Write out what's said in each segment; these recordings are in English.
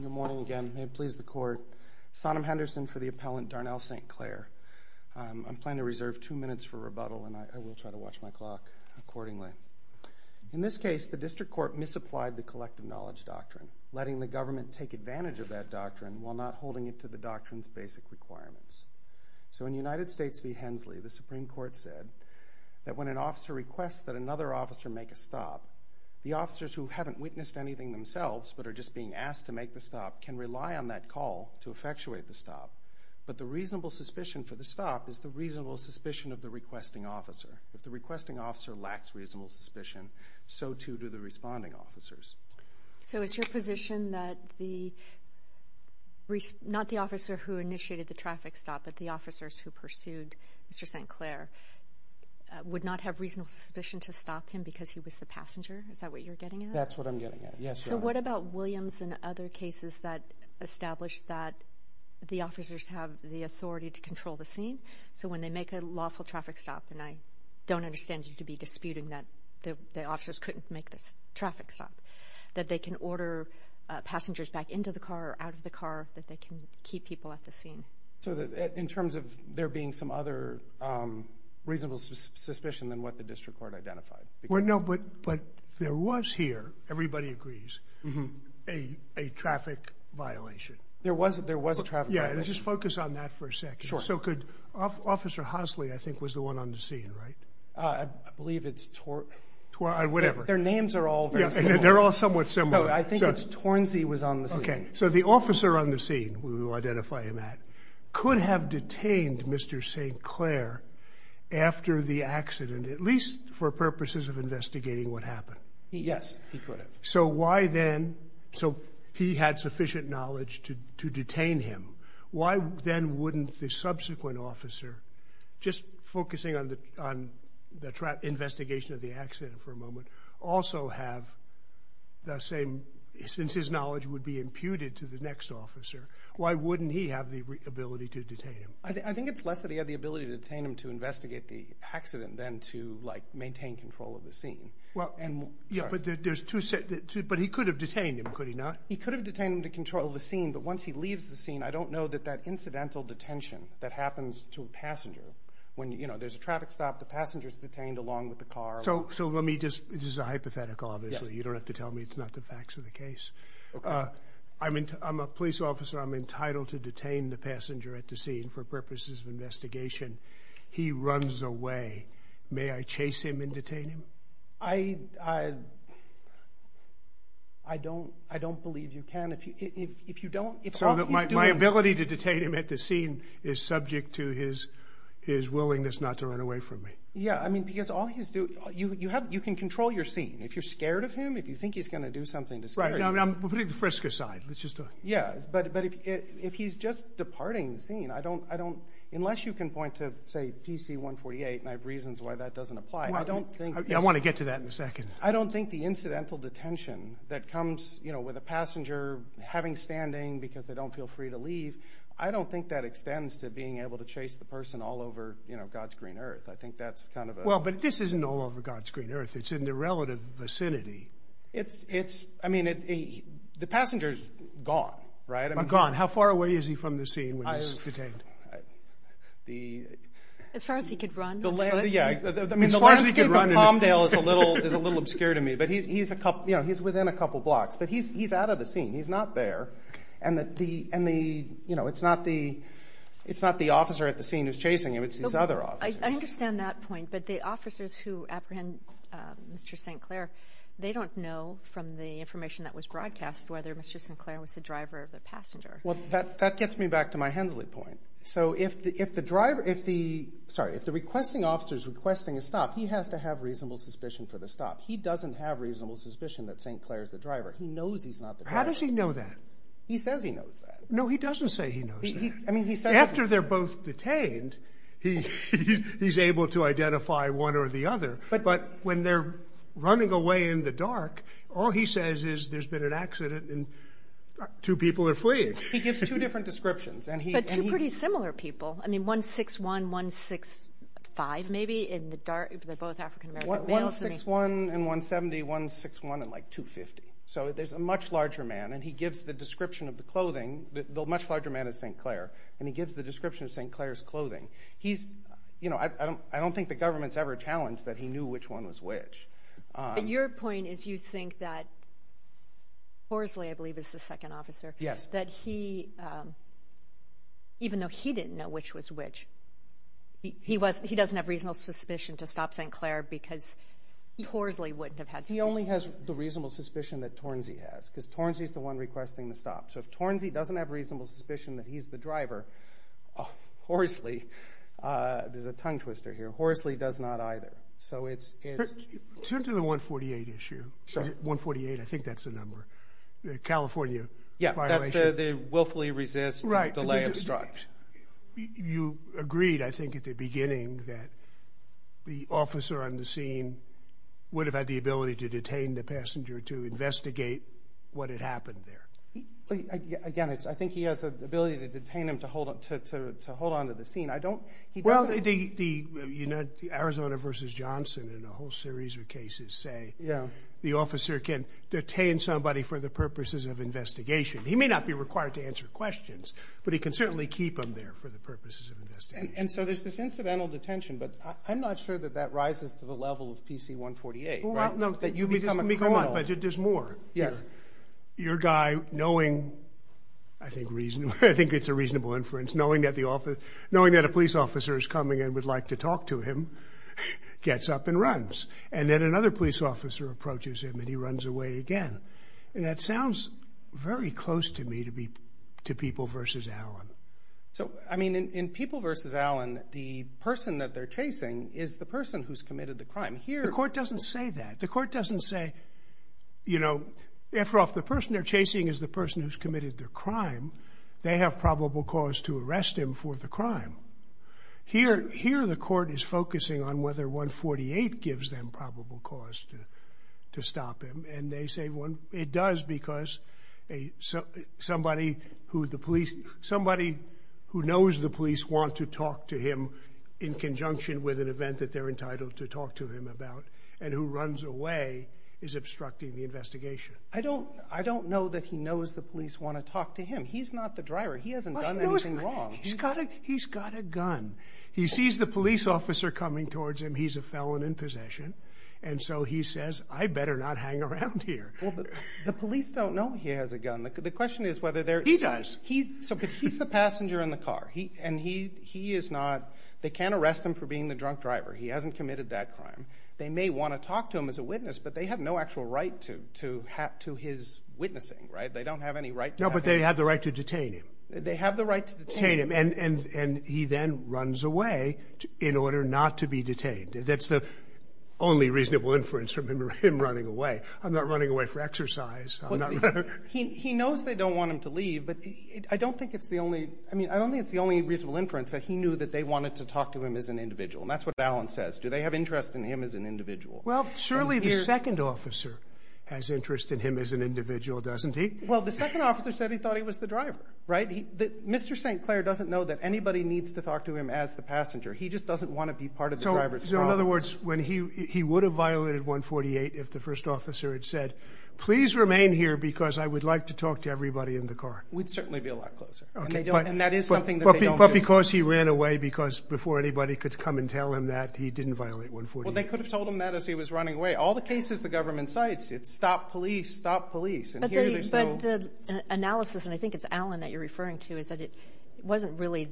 Good morning again. May it please the Court. Sonim Henderson for the Appellant Darnell St. Clair. I'm planning to reserve two minutes for rebuttal and I will try to watch my clock accordingly. In this case, the District Court misapplied the collective knowledge doctrine, letting the government take advantage of that doctrine while not holding it to the doctrine's basic requirements. So in United States v. Hensley, the Supreme Court said that when an officer requests that another officer make a stop, the officers who haven't witnessed anything themselves but are just being asked to make the stop can rely on that call to effectuate the stop. But the reasonable suspicion for the stop is the reasonable suspicion of the requesting officer. If the requesting officer lacks reasonable suspicion, so too do the responding officers. So it's your position that not the officer who initiated the traffic stop but the officers who pursued Mr. St. Clair would not have reasonable suspicion to stop him because he was the passenger? Is that what you're getting at? That's what I'm getting at. Yes, Your Honor. So what about Williams and other cases that establish that the officers have the authority to control the scene? So when they make a lawful traffic stop, and I don't understand you to be disputing that the officers couldn't make the traffic stop, that they can order passengers back into the car or out of the car, that they can keep people at the scene? So in terms of there being some other reasonable suspicion than what the district court identified? Well, no, but there was here, everybody agrees, a traffic violation. There was a traffic violation? Yeah, just focus on that for a second. Sure. So could Officer Hosley, I think, was the one on the scene, right? I believe it's Torn... Whatever. Their names are all very similar. They're all somewhat similar. No, I think it's Tornzey was on the scene. Okay. So the officer on the scene, who you identify him at, could have detained Mr. St. Clair after the accident, at least for purposes of investigating what happened? Yes, he could have. So why then... So he had sufficient knowledge to detain him. Why then wouldn't the subsequent officer, just focusing on the investigation of the accident for a moment, also have the same... Since his knowledge would be imputed to the next officer, why wouldn't he have the ability to detain him? I think it's less that he had the ability to detain him to investigate the accident than to maintain control of the scene. Yeah, but he could have detained him, could he not? He could have detained him to control the scene, but once he leaves the scene, I don't know that that incidental detention that happens to a passenger, when there's a traffic stop, the passenger's detained along with the car. So let me just... This is a hypothetical, obviously. You don't have to tell me it's not the facts of the case. I'm a police officer. I'm entitled to detain the passenger at the scene for purposes of investigation. He runs away. May I chase him and detain him? I don't believe you can. If you don't... So my ability to detain him at the scene is subject to his willingness not to run away from me. Yeah, I mean, because all he's doing... You can control your scene. If you're scared of him, if you think he's going to do something to scare you... Right. We're putting the frisker aside. Let's just do it. Yeah, but if he's just departing the scene, I don't... Unless you can point to, say, PC 148, and I have reasons why that doesn't apply, I don't think this... I want to get to that in a second. I don't think the incidental detention that comes with a passenger having standing because they don't feel free to leave, I don't think that extends to being able to chase the person all over God's green earth. I think that's kind of a... Well, but this isn't all over God's green earth. It's in the relative vicinity. I mean, the passenger's gone, right? Gone. How far away is he from the scene when he's detained? As far as he could run, I'm sure. Yeah. I mean, the landscape of Palmdale is a little obscure to me, but he's within a It's not the officer at the scene who's chasing him. It's these other officers. I understand that point, but the officers who apprehend Mr. St. Clair, they don't know from the information that was broadcast whether Mr. St. Clair was the driver of the passenger. Well, that gets me back to my Hensley point. So if the driver... Sorry, if the requesting officer's requesting a stop, he has to have reasonable suspicion for the stop. He doesn't have reasonable suspicion that St. Clair's the driver. He knows he's not the driver. How does he know that? He says he knows that. No, he doesn't say he knows that. After they're both detained, he's able to identify one or the other. But when they're running away in the dark, all he says is, there's been an accident and two people are fleeing. He gives two different descriptions. But two pretty similar people. I mean, 161, 165, maybe in the dark. They're both African-American. 161 and 170, 161 and like 250. So there's a much larger man, and he gives the description of the clothing. The much larger man is St. Clair. And he gives the description of St. Clair's clothing. I don't think the government's ever challenged that he knew which one was which. Your point is you think that Horsley, I believe, is the second officer. Yes. That he, even though he didn't know which was which, he doesn't have reasonable suspicion to stop St. Clair because Horsley wouldn't have had... He only has the reasonable suspicion that Tornzey has, because Tornzey's the one requesting the stop. So if Tornzey doesn't have reasonable suspicion that he's the driver, Horsley, there's a tongue twister here, Horsley does not either. So it's... Turn to the 148 issue. Sure. 148, I think that's the number. The California violation. Yeah, that's the willfully resist, delay, obstruct. You agreed, I think, at the beginning that the officer on the scene would have had the ability to detain the passenger to investigate what had happened there. Again, I think he has the ability to detain him to hold on to the scene. I don't... Well, Arizona v. Johnson and a whole series of cases say the officer can detain somebody for the purposes of investigation. He may not be required to answer questions, but he can certainly keep him there for the purposes of investigation. And so there's this incidental detention, but I'm not sure that that rises to the level of PC 148, right? Well, no. That you become a criminal. But there's more. Yes. Your guy, knowing, I think it's a reasonable inference, knowing that a police officer is coming and would like to talk to him, gets up and runs. And then another police officer approaches him and he runs away again. And that sounds very close to me to People v. Allen. So, I mean, in People v. Allen, the person that they're chasing is the person who's committed the crime. Here... The court doesn't say that. The court doesn't say, you know... After all, the person they're chasing is the person who's committed the crime. They have probable cause to arrest him for the crime. Here, the court is focusing on whether 148 gives them probable cause to stop him. And they say it does because somebody who the police... Somebody who knows the police want to talk to him in conjunction with an event that they're entitled to talk to him about and who runs away is obstructing the investigation. I don't know that he knows the police want to talk to him. He's not the driver. He hasn't done anything wrong. He's got a gun. He sees the police officer coming towards him. He's a felon in possession. And so he says, I better not hang around here. The police don't know he has a gun. The question is whether they're... He does. He's the passenger in the car. And he is not... They can't arrest him for being the drunk driver. He hasn't committed that crime. They may want to talk to him as a witness, but they have no actual right to his witnessing, right? They don't have any right to have... No, but they have the right to detain him. They have the right to detain him. And he then runs away in order not to be detained. That's the only reasonable inference from him running away. I'm not running away for exercise. He knows they don't want him to leave, but I don't think it's the only... I mean, I don't think it's the only reasonable inference that he knew that they wanted to talk to him as an individual. And that's what Allen says. Do they have interest in him as an individual? Well, surely the second officer has interest in him as an individual, doesn't he? Well, the second officer said he thought he was the driver, right? Mr. St. Clair doesn't know that anybody needs to talk to him as the passenger. He just doesn't want to be part of the driver's problem. So in other words, when he... He would have violated 148 if the first officer had said, please remain here because I would like to talk to everybody in the car. We'd certainly be a lot closer. And that is something that they don't do. But because he ran away, because before anybody could come and tell him that, he didn't violate 148. Well, they could have told him that as he was running away. All the cases the government cites, it's stop police, stop police. But the analysis, and I think it's Allen that you're referring to, is that it wasn't really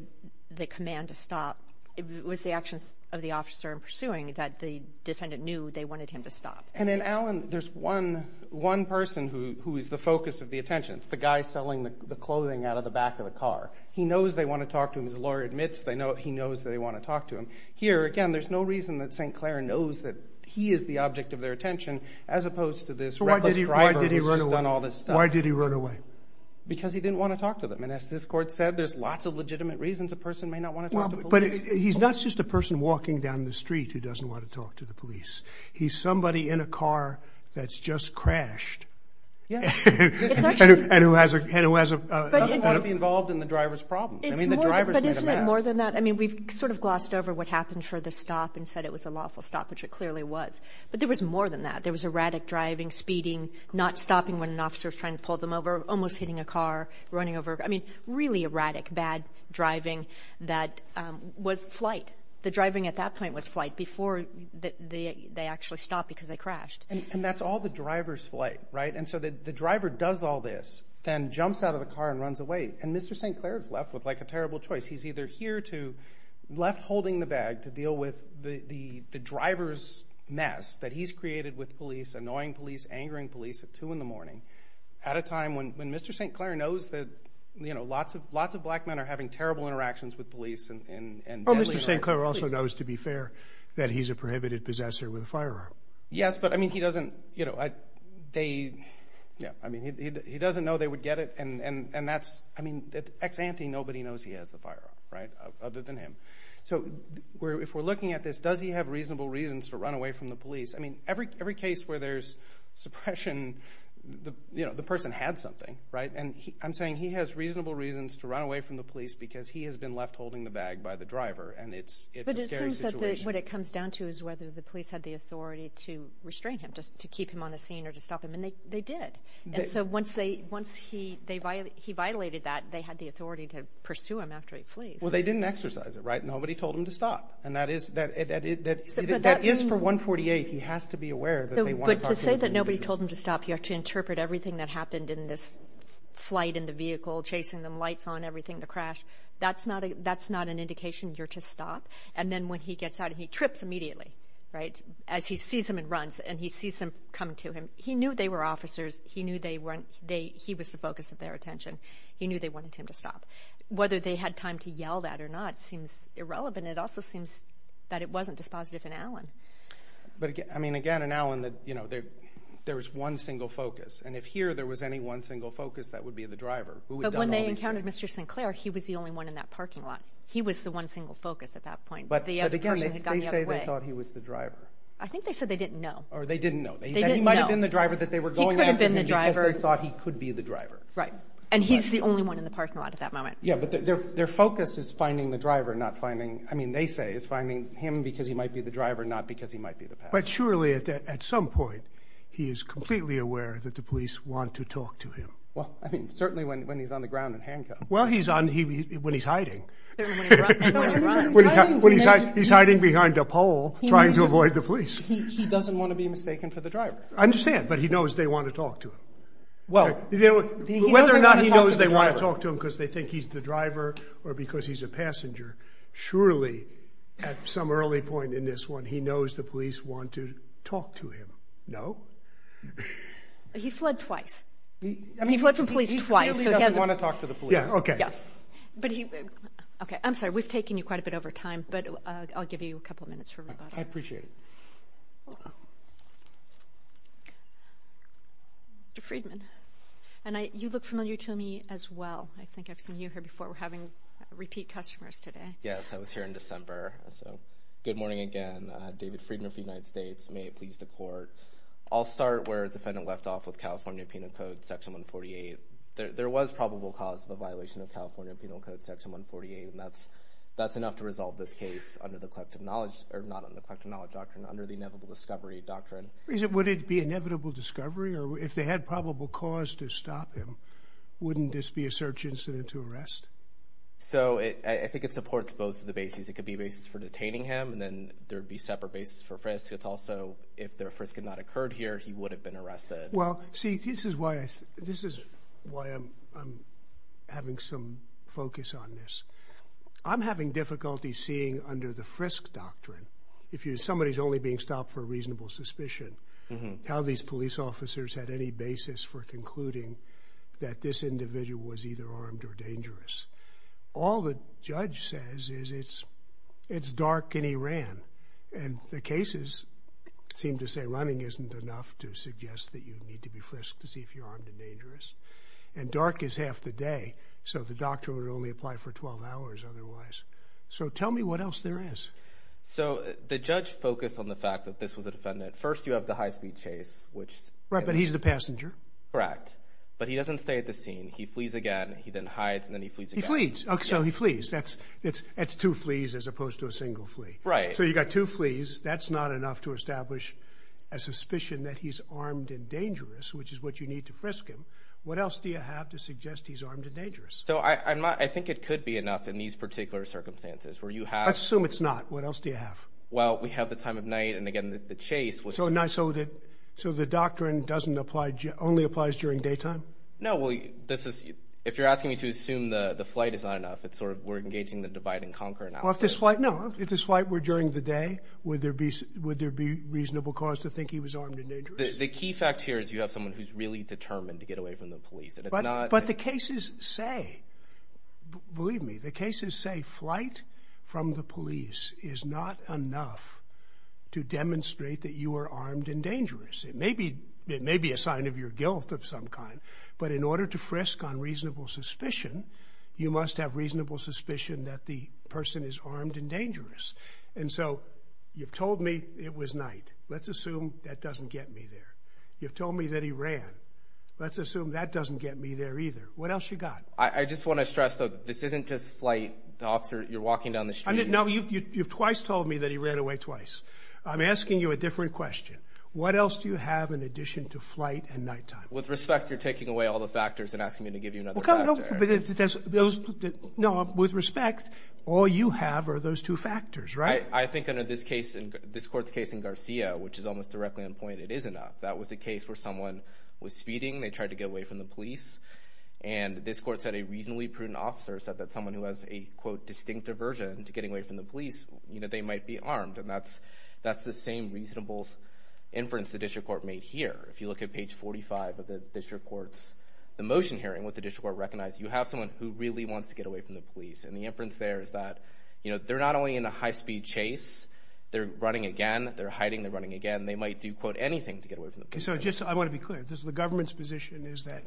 the command to stop. It was the actions of the officer in pursuing that the defendant knew they wanted him to stop. And in Allen, there's one person who is the focus of the attention. It's the guy selling the clothing out of the back of the car. He knows they want to talk to him. His lawyer admits he knows that they want to talk to him. Here, again, there's no reason that St. Clair knows that he is the object of their attention as opposed to this reckless driver who's just done all this stuff. Why did he run away? Because he didn't want to talk to them. And as this court said, there's lots of legitimate reasons a person may not want to talk to police. But he's not just a person walking down the street who doesn't want to talk to the police. He's somebody in a car that's just crashed. And who hasn't been involved in the driver's problem. I mean, the driver is more than that. I mean, we've sort of glossed over what happened for the stop and said it was a lawful stop, which it clearly was. But there was more than that. There was erratic driving, speeding, not stopping when an officer is trying to pull them over, almost hitting a car, running over. I mean, really erratic, bad driving. That was flight. The driving at that point was flight before they actually stopped because they crashed. And that's all the driver's flight, right? And so the driver does all this, then jumps out of the car and runs away. And Mr. St. Clair is left with like a terrible choice. He's either here to, left holding the bag to deal with the driver's mess that he's created with police, annoying police, angering police at two in the morning, at a time when Mr. St. Clair knows that, you know, lots of lots of black men are having terrible interactions with police. Oh, Mr. St. Clair also knows, to be fair, that he's a prohibited possessor with a firearm. Yes, but I mean, he doesn't, you know, they, yeah, I mean, he doesn't know they would get it. And that's, I mean, ex-ante, nobody knows he has the firearm, right, other than him. So if we're looking at this, does he have reasonable reasons to run away from the police? I mean, every case where there's suppression, you know, the person had something, right? And I'm saying he has reasonable reasons to run away from the police because he has been left holding the bag by the driver. And it's, it's a scary situation. What it comes down to is whether the police had the authority to restrain him, just to keep him on the scene or to stop him. And they, they did. And so once they, once he, they violated, he violated that, they had the authority to pursue him after he flees. Well, they didn't exercise it, right? Nobody told him to stop. And that is, that, that is for 148. He has to be aware that they want to talk to him. But to say that nobody told him to stop, you have to interpret everything that happened in this flight, in the vehicle, chasing them, lights on, everything, the crash. That's not a, that's not an indication you're to stop. And then when he gets out and he trips immediately, right, as he sees him and runs and he sees them come to him, he knew they were officers. He knew they weren't, they, he was the focus of their attention. He knew they wanted him to stop. Whether they had time to yell that or not seems irrelevant. It also seems that it wasn't dispositive in Allen. But again, I mean, again, in Allen that, you know, there, there was one single focus. And if here there was any one single focus, that would be the driver. But when they encountered Mr. Sinclair, he was the only one in that parking lot. He was the one single focus at that point. But again, they say they thought he was the driver. I think they said they didn't know. Or they didn't know. They didn't know. He might have been the driver that they were going after. He could have been the driver. Because they thought he could be the driver. Right. And he's the only one in the parking lot at that moment. Yeah. But their, their focus is finding the driver, not finding, I mean, they say it's finding him because he might be the driver, not because he might be the passenger. But surely at that, at some point, he is completely aware that the police want to talk to him. Well, I mean, certainly when, when he's on the ground in handcuffs. Well, he's on, he, when he's hiding. Certainly when he runs. When he runs. When he's hiding behind a pole, trying to avoid the police. He, he doesn't want to be mistaken for the driver. I understand. But he knows they want to talk to him. Well. You know, whether or not he knows they want to talk to him because they think he's the driver or because he's a passenger, surely at some early point in this one, he knows the police want to talk to him. No. But he fled twice. He, I mean. He fled from police twice. He clearly doesn't want to talk to the police. Yeah. Okay. Yeah. But he, okay. I'm sorry. We've taken you quite a bit over time, but I'll give you a couple of minutes for rebuttal. I appreciate it. Hold on. Mr. Friedman. And I, you look familiar to me as well. I think I've seen you here before. We're having repeat customers today. Yes. I was here in December. So good morning again. David Friedman of the United States. May it please the court. I'll start where defendant left off with California penal code section 148. There was probable cause of a violation of California penal code section 148. And that's, that's enough to resolve this case under the collective knowledge or not on the collective knowledge doctrine under the inevitable discovery doctrine. Is it, would it be inevitable discovery or if they had probable cause to stop him, wouldn't this be a search incident to arrest? So it, I think it supports both of the bases. It could be a basis for detaining him and then there'd be separate basis for frisk. It's also if their frisk had not occurred here, he would have been arrested. Well, see, this is why I, this is why I'm, I'm having some focus on this. I'm having difficulty seeing under the frisk doctrine. If you, somebody is only being stopped for a reasonable suspicion, how these police officers had any basis for concluding that this individual was either armed or dangerous. And the cases seem to say running isn't enough to suggest that you need to be frisked to see if you're armed and dangerous. And dark is half the day. So the doctor would only apply for 12 hours otherwise. So tell me what else there is. So the judge focused on the fact that this was a defendant. First you have the high speed chase, which. Right. But he's the passenger. Correct. But he doesn't stay at the scene. He flees again. He then hides and then he flees again. He flees. Okay. So he flees. That's, it's, it's two flees as opposed to a single flee. Right. So you got two flees. That's not enough to establish a suspicion that he's armed and dangerous, which is what you need to frisk him. What else do you have to suggest he's armed and dangerous? So I, I'm not, I think it could be enough in these particular circumstances where you have, let's assume it's not. What else do you have? Well, we have the time of night and again, the chase was so nice. So the, so the doctrine doesn't apply. Only applies during daytime. No. Well, this is, if you're asking me to assume the flight is not enough, it's sort of, we're engaging the divide and conquer. Well, if this flight, no, if this flight were during the day, would there be, would there be reasonable cause to think he was armed and dangerous? The key fact here is you have someone who's really determined to get away from the police and it's not. But the cases say, believe me, the cases say flight from the police is not enough to demonstrate that you are armed and dangerous. It may be, it may be a sign of your guilt of some kind, but in order to frisk on reasonable suspicion that the person is armed and dangerous. And so you've told me it was night. Let's assume that doesn't get me there. You've told me that he ran. Let's assume that doesn't get me there either. What else you got? I just want to stress though, this isn't just flight officer. You're walking down the street. No, you, you, you've twice told me that he ran away twice. I'm asking you a different question. What else do you have in addition to flight and nighttime? With respect, you're taking away all the factors and asking me to give you another factor. Those, no, with respect, all you have are those two factors, right? I think under this case, this court's case in Garcia, which is almost directly in point, it is enough. That was a case where someone was speeding. They tried to get away from the police. And this court said a reasonably prudent officer said that someone who has a quote, distinct aversion to getting away from the police, you know, they might be armed and that's, that's the same reasonable inference the district court made here. If you look at page 45 of the district court's, the motion hearing what the district court recognized, you have someone who really wants to get away from the police. And the inference there is that, you know, they're not only in a high speed chase, they're running again, they're hiding, they're running again. They might do quote anything to get away from the police. So just, I want to be clear, this is the government's position is that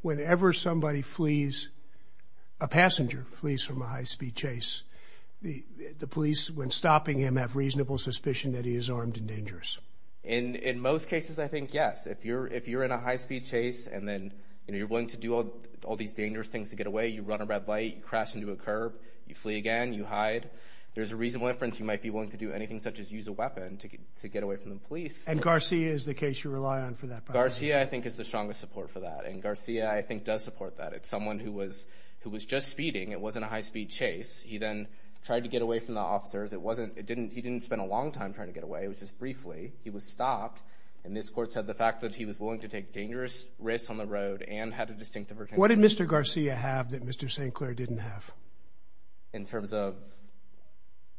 whenever somebody flees, a passenger flees from a high speed chase, the police, when stopping him, have reasonable suspicion that he is armed and dangerous. And in most cases, I think, yes, if you're, if you're in a high speed chase and then, you know, you're willing to do all, all these dangerous things to get away. You run a red light, you crash into a curb, you flee again, you hide. There's a reasonable inference you might be willing to do anything such as use a weapon to get, to get away from the police. And Garcia is the case you rely on for that. Garcia, I think is the strongest support for that. And Garcia, I think does support that. It's someone who was, who was just speeding. It wasn't a high speed chase. He then tried to get away from the officers. It wasn't, it didn't, he didn't spend a long time trying to get away. It was just briefly, he was stopped. And this court said the fact that he was willing to take dangerous risks on the road and had a distinctive virginity. What did Mr. Garcia have that Mr. St. Clair didn't have? In terms of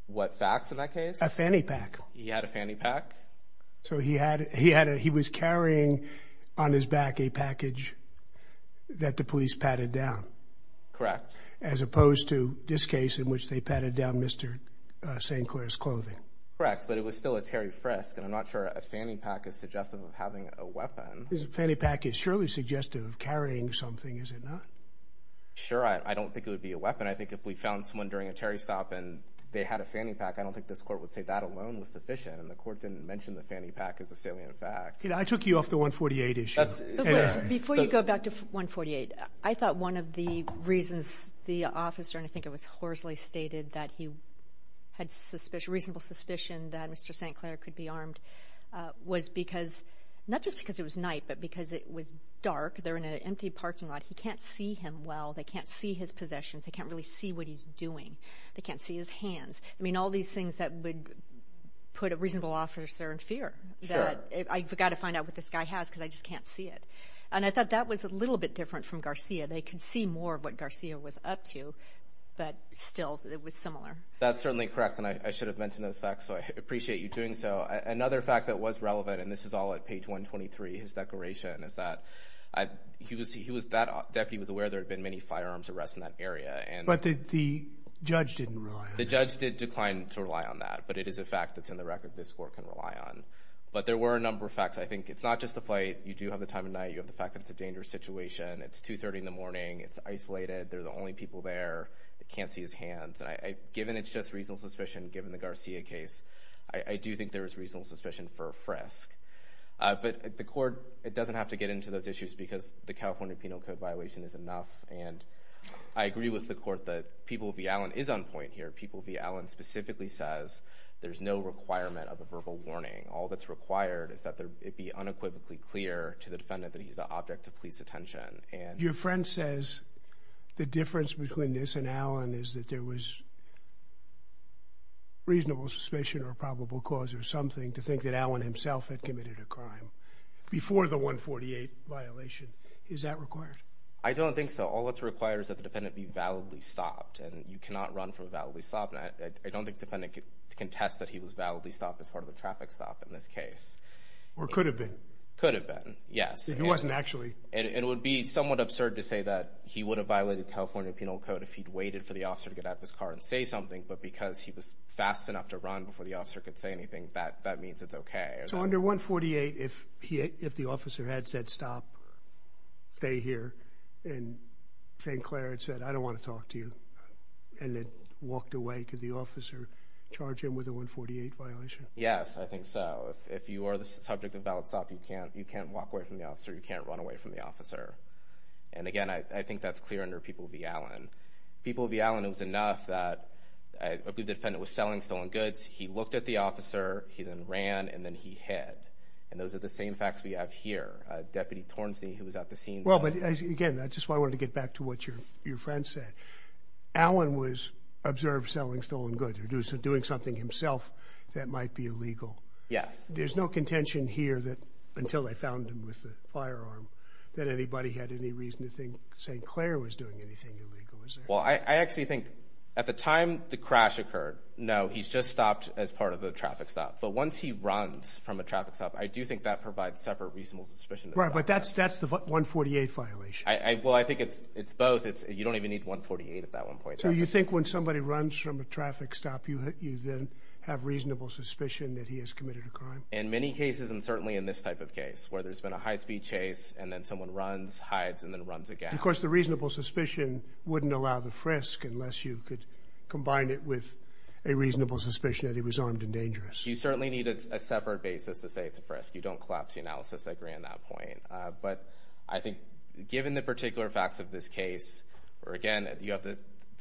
what facts in that case? A fanny pack. He had a fanny pack. So he had, he had a, he was carrying on his back a package that the police padded Correct. As opposed to this case in which they padded down Mr. St. Clair's clothing. Correct. But it was still a Terry Fresk. And I'm not sure a fanny pack is suggestive of having a weapon. Fanny pack is surely suggestive of carrying something. Is it not? Sure. I don't think it would be a weapon. I think if we found someone during a Terry stop and they had a fanny pack, I don't think this court would say that alone was sufficient. And the court didn't mention the fanny pack as a salient fact. I took you off the 148 issue. Before you go back to 148, I thought one of the reasons the officer, and I think it was Horsley stated that he had suspicion, reasonable suspicion that Mr. St. Clair could be armed, uh, was because not just because it was night, but because it was dark, they're in an empty parking lot. He can't see him. Well, they can't see his possessions. They can't really see what he's doing. They can't see his hands. I mean, all these things that would put a reasonable officer in fear that I forgot to find out what this guy has. Cause I just can't see it. And I thought that was a little bit different from Garcia. They could see more of what Garcia was up to, but still it was similar. That's certainly correct. And I should have mentioned those facts. So I appreciate you doing so. Another fact that was relevant, and this is all at page 123, his declaration is that I, he was, he was, that deputy was aware there had been many firearms arrests in that area. And the judge didn't rely on that, but it is a fact that's in the record. This court can rely on, but there were a number of facts. I think it's not just the flight. You do have the time of night. You have the fact that it's a dangerous situation. It's two 30 in the morning. It's isolated. They're the only people there that can't see his hands. And I, given it's just reasonable suspicion, given the Garcia case, I do think there was reasonable suspicion for a frisk, but the court, it doesn't have to get into those issues because the California Penal Code violation is enough. And I agree with the court that People v. Allen is on point here. People v. Allen specifically says there's no requirement of a verbal warning. All that's required is that it be unequivocally clear to the defendant that he's the object of police attention. Your friend says the difference between this and Allen is that there was reasonable suspicion or probable cause or something to think that Allen himself had committed a crime before the 148 violation. Is that required? I don't think so. All that's required is that the defendant be validly stopped and you cannot run for a validly stop. And I don't think the defendant can contest that he was validly stopped as part of a traffic stop in this case. Or could have been. Could have been. Yes. If it wasn't actually. And it would be somewhat absurd to say that he would have violated California Penal Code if he'd waited for the officer to get out of his car and say something. But because he was fast enough to run before the officer could say anything that that means it's OK. So under 148 if he if the officer had said stop stay here and St. Clair had said I don't want to talk to you and then walked away could the officer charge him with a 148 violation. Yes I think so. If you are the subject of valid stop you can't you can't walk away from the officer. And again I think that's clear under people be Alan. People be Alan it was enough that I believe the defendant was selling stolen goods. He looked at the officer he then ran and then he had. And those are the same facts we have here. Deputy Tornstein who was at the scene. Well but again I just want to get back to what your your friend said. Alan was observed selling stolen goods or do some doing something himself that might be illegal. Yes. There's no contention here that until they found him with a firearm that anybody had any reason to think St. Clair was doing anything illegal. Well I actually think at the time the crash occurred. No he's just stopped as part of the traffic stop. But once he runs from a traffic stop I do think that provides separate reasonable suspicion. Right. But that's that's the 148 violation. I well I think it's it's both. It's you don't even need 148 at that one point. So you think when somebody runs from a traffic stop you you then have reasonable suspicion that he has committed a crime. In many cases and certainly in this type of case where there's been a high speed chase and then someone runs hides and then runs again of course the reasonable suspicion wouldn't allow the frisk unless you could combine it with a reasonable suspicion that he was armed and dangerous. You certainly need a separate basis to say it's a frisk. You don't collapse the analysis. I agree on that point. But I think given the particular facts of this case or again you have the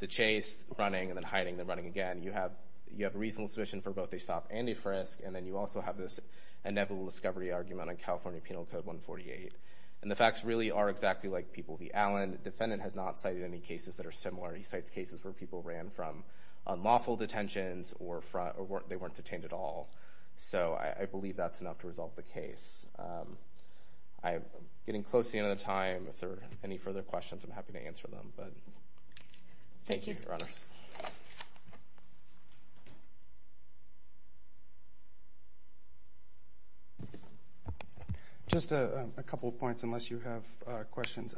chase running and then hiding the running again you have you have a reasonable suspicion for both a stop and a frisk and then you also have this inevitable discovery argument on California Penal Code 148 and the facts really are exactly like people the Allen defendant has not cited any cases that are similar. He cites cases where people ran from unlawful detentions or front or they weren't detained at all. So I believe that's enough to resolve the case. I am getting close to the end of time. If there are any further questions I'm happy to answer them. But thank you. Just a couple of points unless you have questions.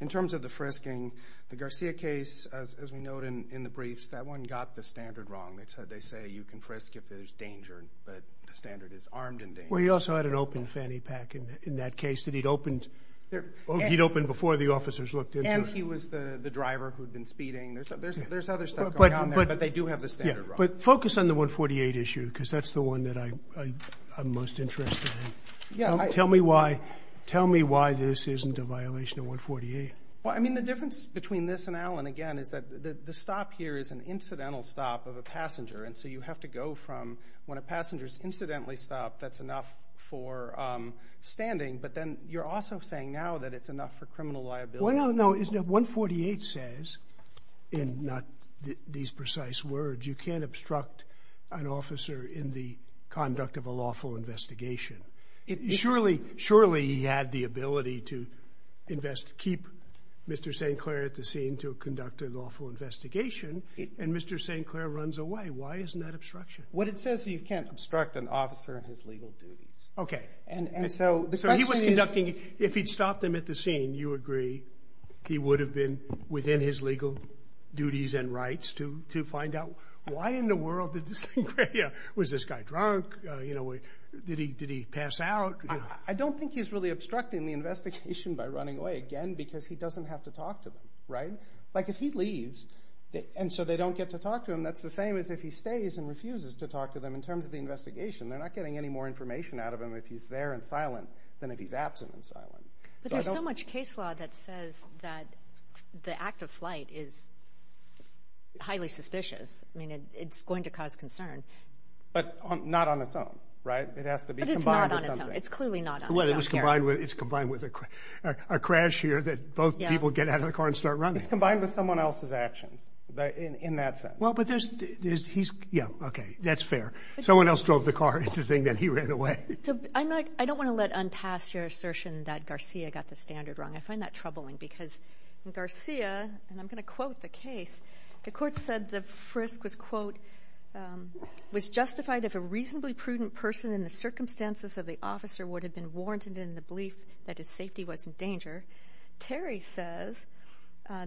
In terms of the frisking the Garcia case as we know it in the briefs that one got the standard wrong. It's how they say you can frisk if there's danger but the standard is armed and dangerous. Well he also had an open fanny pack in that case that he'd opened there. He'd opened before the officers looked at him. He was the driver who'd been speeding. There's other stuff but they do have the standard. But focus on the 148 issue because that's the one that I I'm most interested in. Yeah. Tell me why. Tell me why this isn't a violation of 148. Well I mean the difference between this and Allen again is that the stop here is an incidental stop of a passenger and so you have to go from when a passenger is incidentally stopped. That's enough for standing. But then you're also saying now that it's enough for criminal liability. Well no. Isn't it? 148 says and not these precise words you can't obstruct an officer in the conduct of a lawful investigation. Surely surely he had the ability to invest keep Mr. St. Clair at the scene to conduct a lawful investigation. And Mr. St. Clair runs away. Why isn't that obstruction? What it says you can't obstruct an officer in his legal duties. Okay. And so the question is. If he'd stopped him at the scene you agree he would have been within his legal duties and rights to to find out why in the world did this. Was this guy drunk. You know did he did he pass out. I don't think he's really obstructing the investigation by running away again because he doesn't have to talk to them right. Like if he leaves. And so they don't get to talk to him. That's the same as if he stays and refuses to talk to them in terms of the investigation. They're not getting any more information out of him if he's there and silent than if he's absent and silent. But there's so much case law that says that the act of flight is highly suspicious. I mean it's going to cause concern. But not on its own. Right. It has to be combined. It's clearly not what it was combined with. It's combined with a crash here that both people get out of the car and start running. It's combined with someone else's actions in that sense. Well but there's he's. Yeah. Okay. That's fair. Someone else drove the car into the thing that he ran away. So I'm not I don't want to let on pass your assertion that Garcia got the standard wrong. I find that troubling because Garcia and I'm going to quote the case the court said the frisk was quote was justified if a reasonably prudent person in the circumstances of the officer would have been warranted in the belief that his safety was in danger. Terry says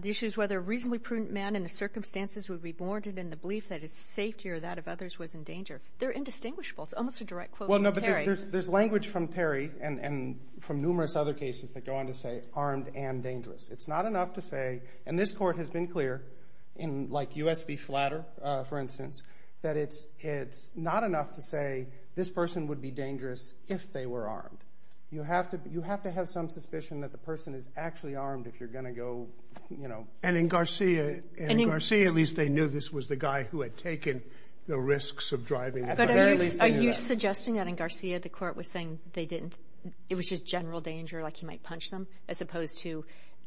the issue is whether a reasonably prudent man in the circumstances would be warranted in the belief that his safety or that of others was in danger. They're indistinguishable. It's almost a direct quote. Well no but there's language from Terry and from numerous other cases that go on to say armed and dangerous. It's not enough to say and this court has been clear in like U.S. v. Flatter for instance that it's it's not enough to say this person would be dangerous if they were armed. You have to you have to have some suspicion that the person is actually armed if you're going to go you know. And in Garcia at least they knew this was the guy who had taken the risks of driving. Are you suggesting that in Garcia the court was saying they didn't it was just general danger like he might punch them as opposed to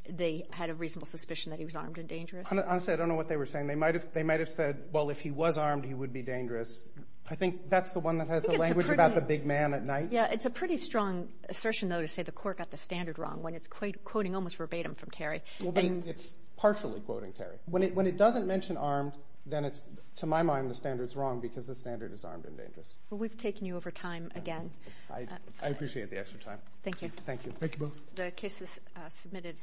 they had a reasonable suspicion that he was armed and dangerous. Honestly I don't know what they were saying. They might have they might have said well if he was armed he would be dangerous. I think that's the one that has the language about the big man at night. Yeah. It's a pretty strong assertion though to say the court got the standard wrong when it's quite quoting almost verbatim from Terry and it's partially quoting Terry when it when it doesn't mention armed then it's to my mind the standards wrong because the standard is armed and dangerous. Well we've taken you over time again. I appreciate the extra time. Thank you. Thank you. The case is submitted.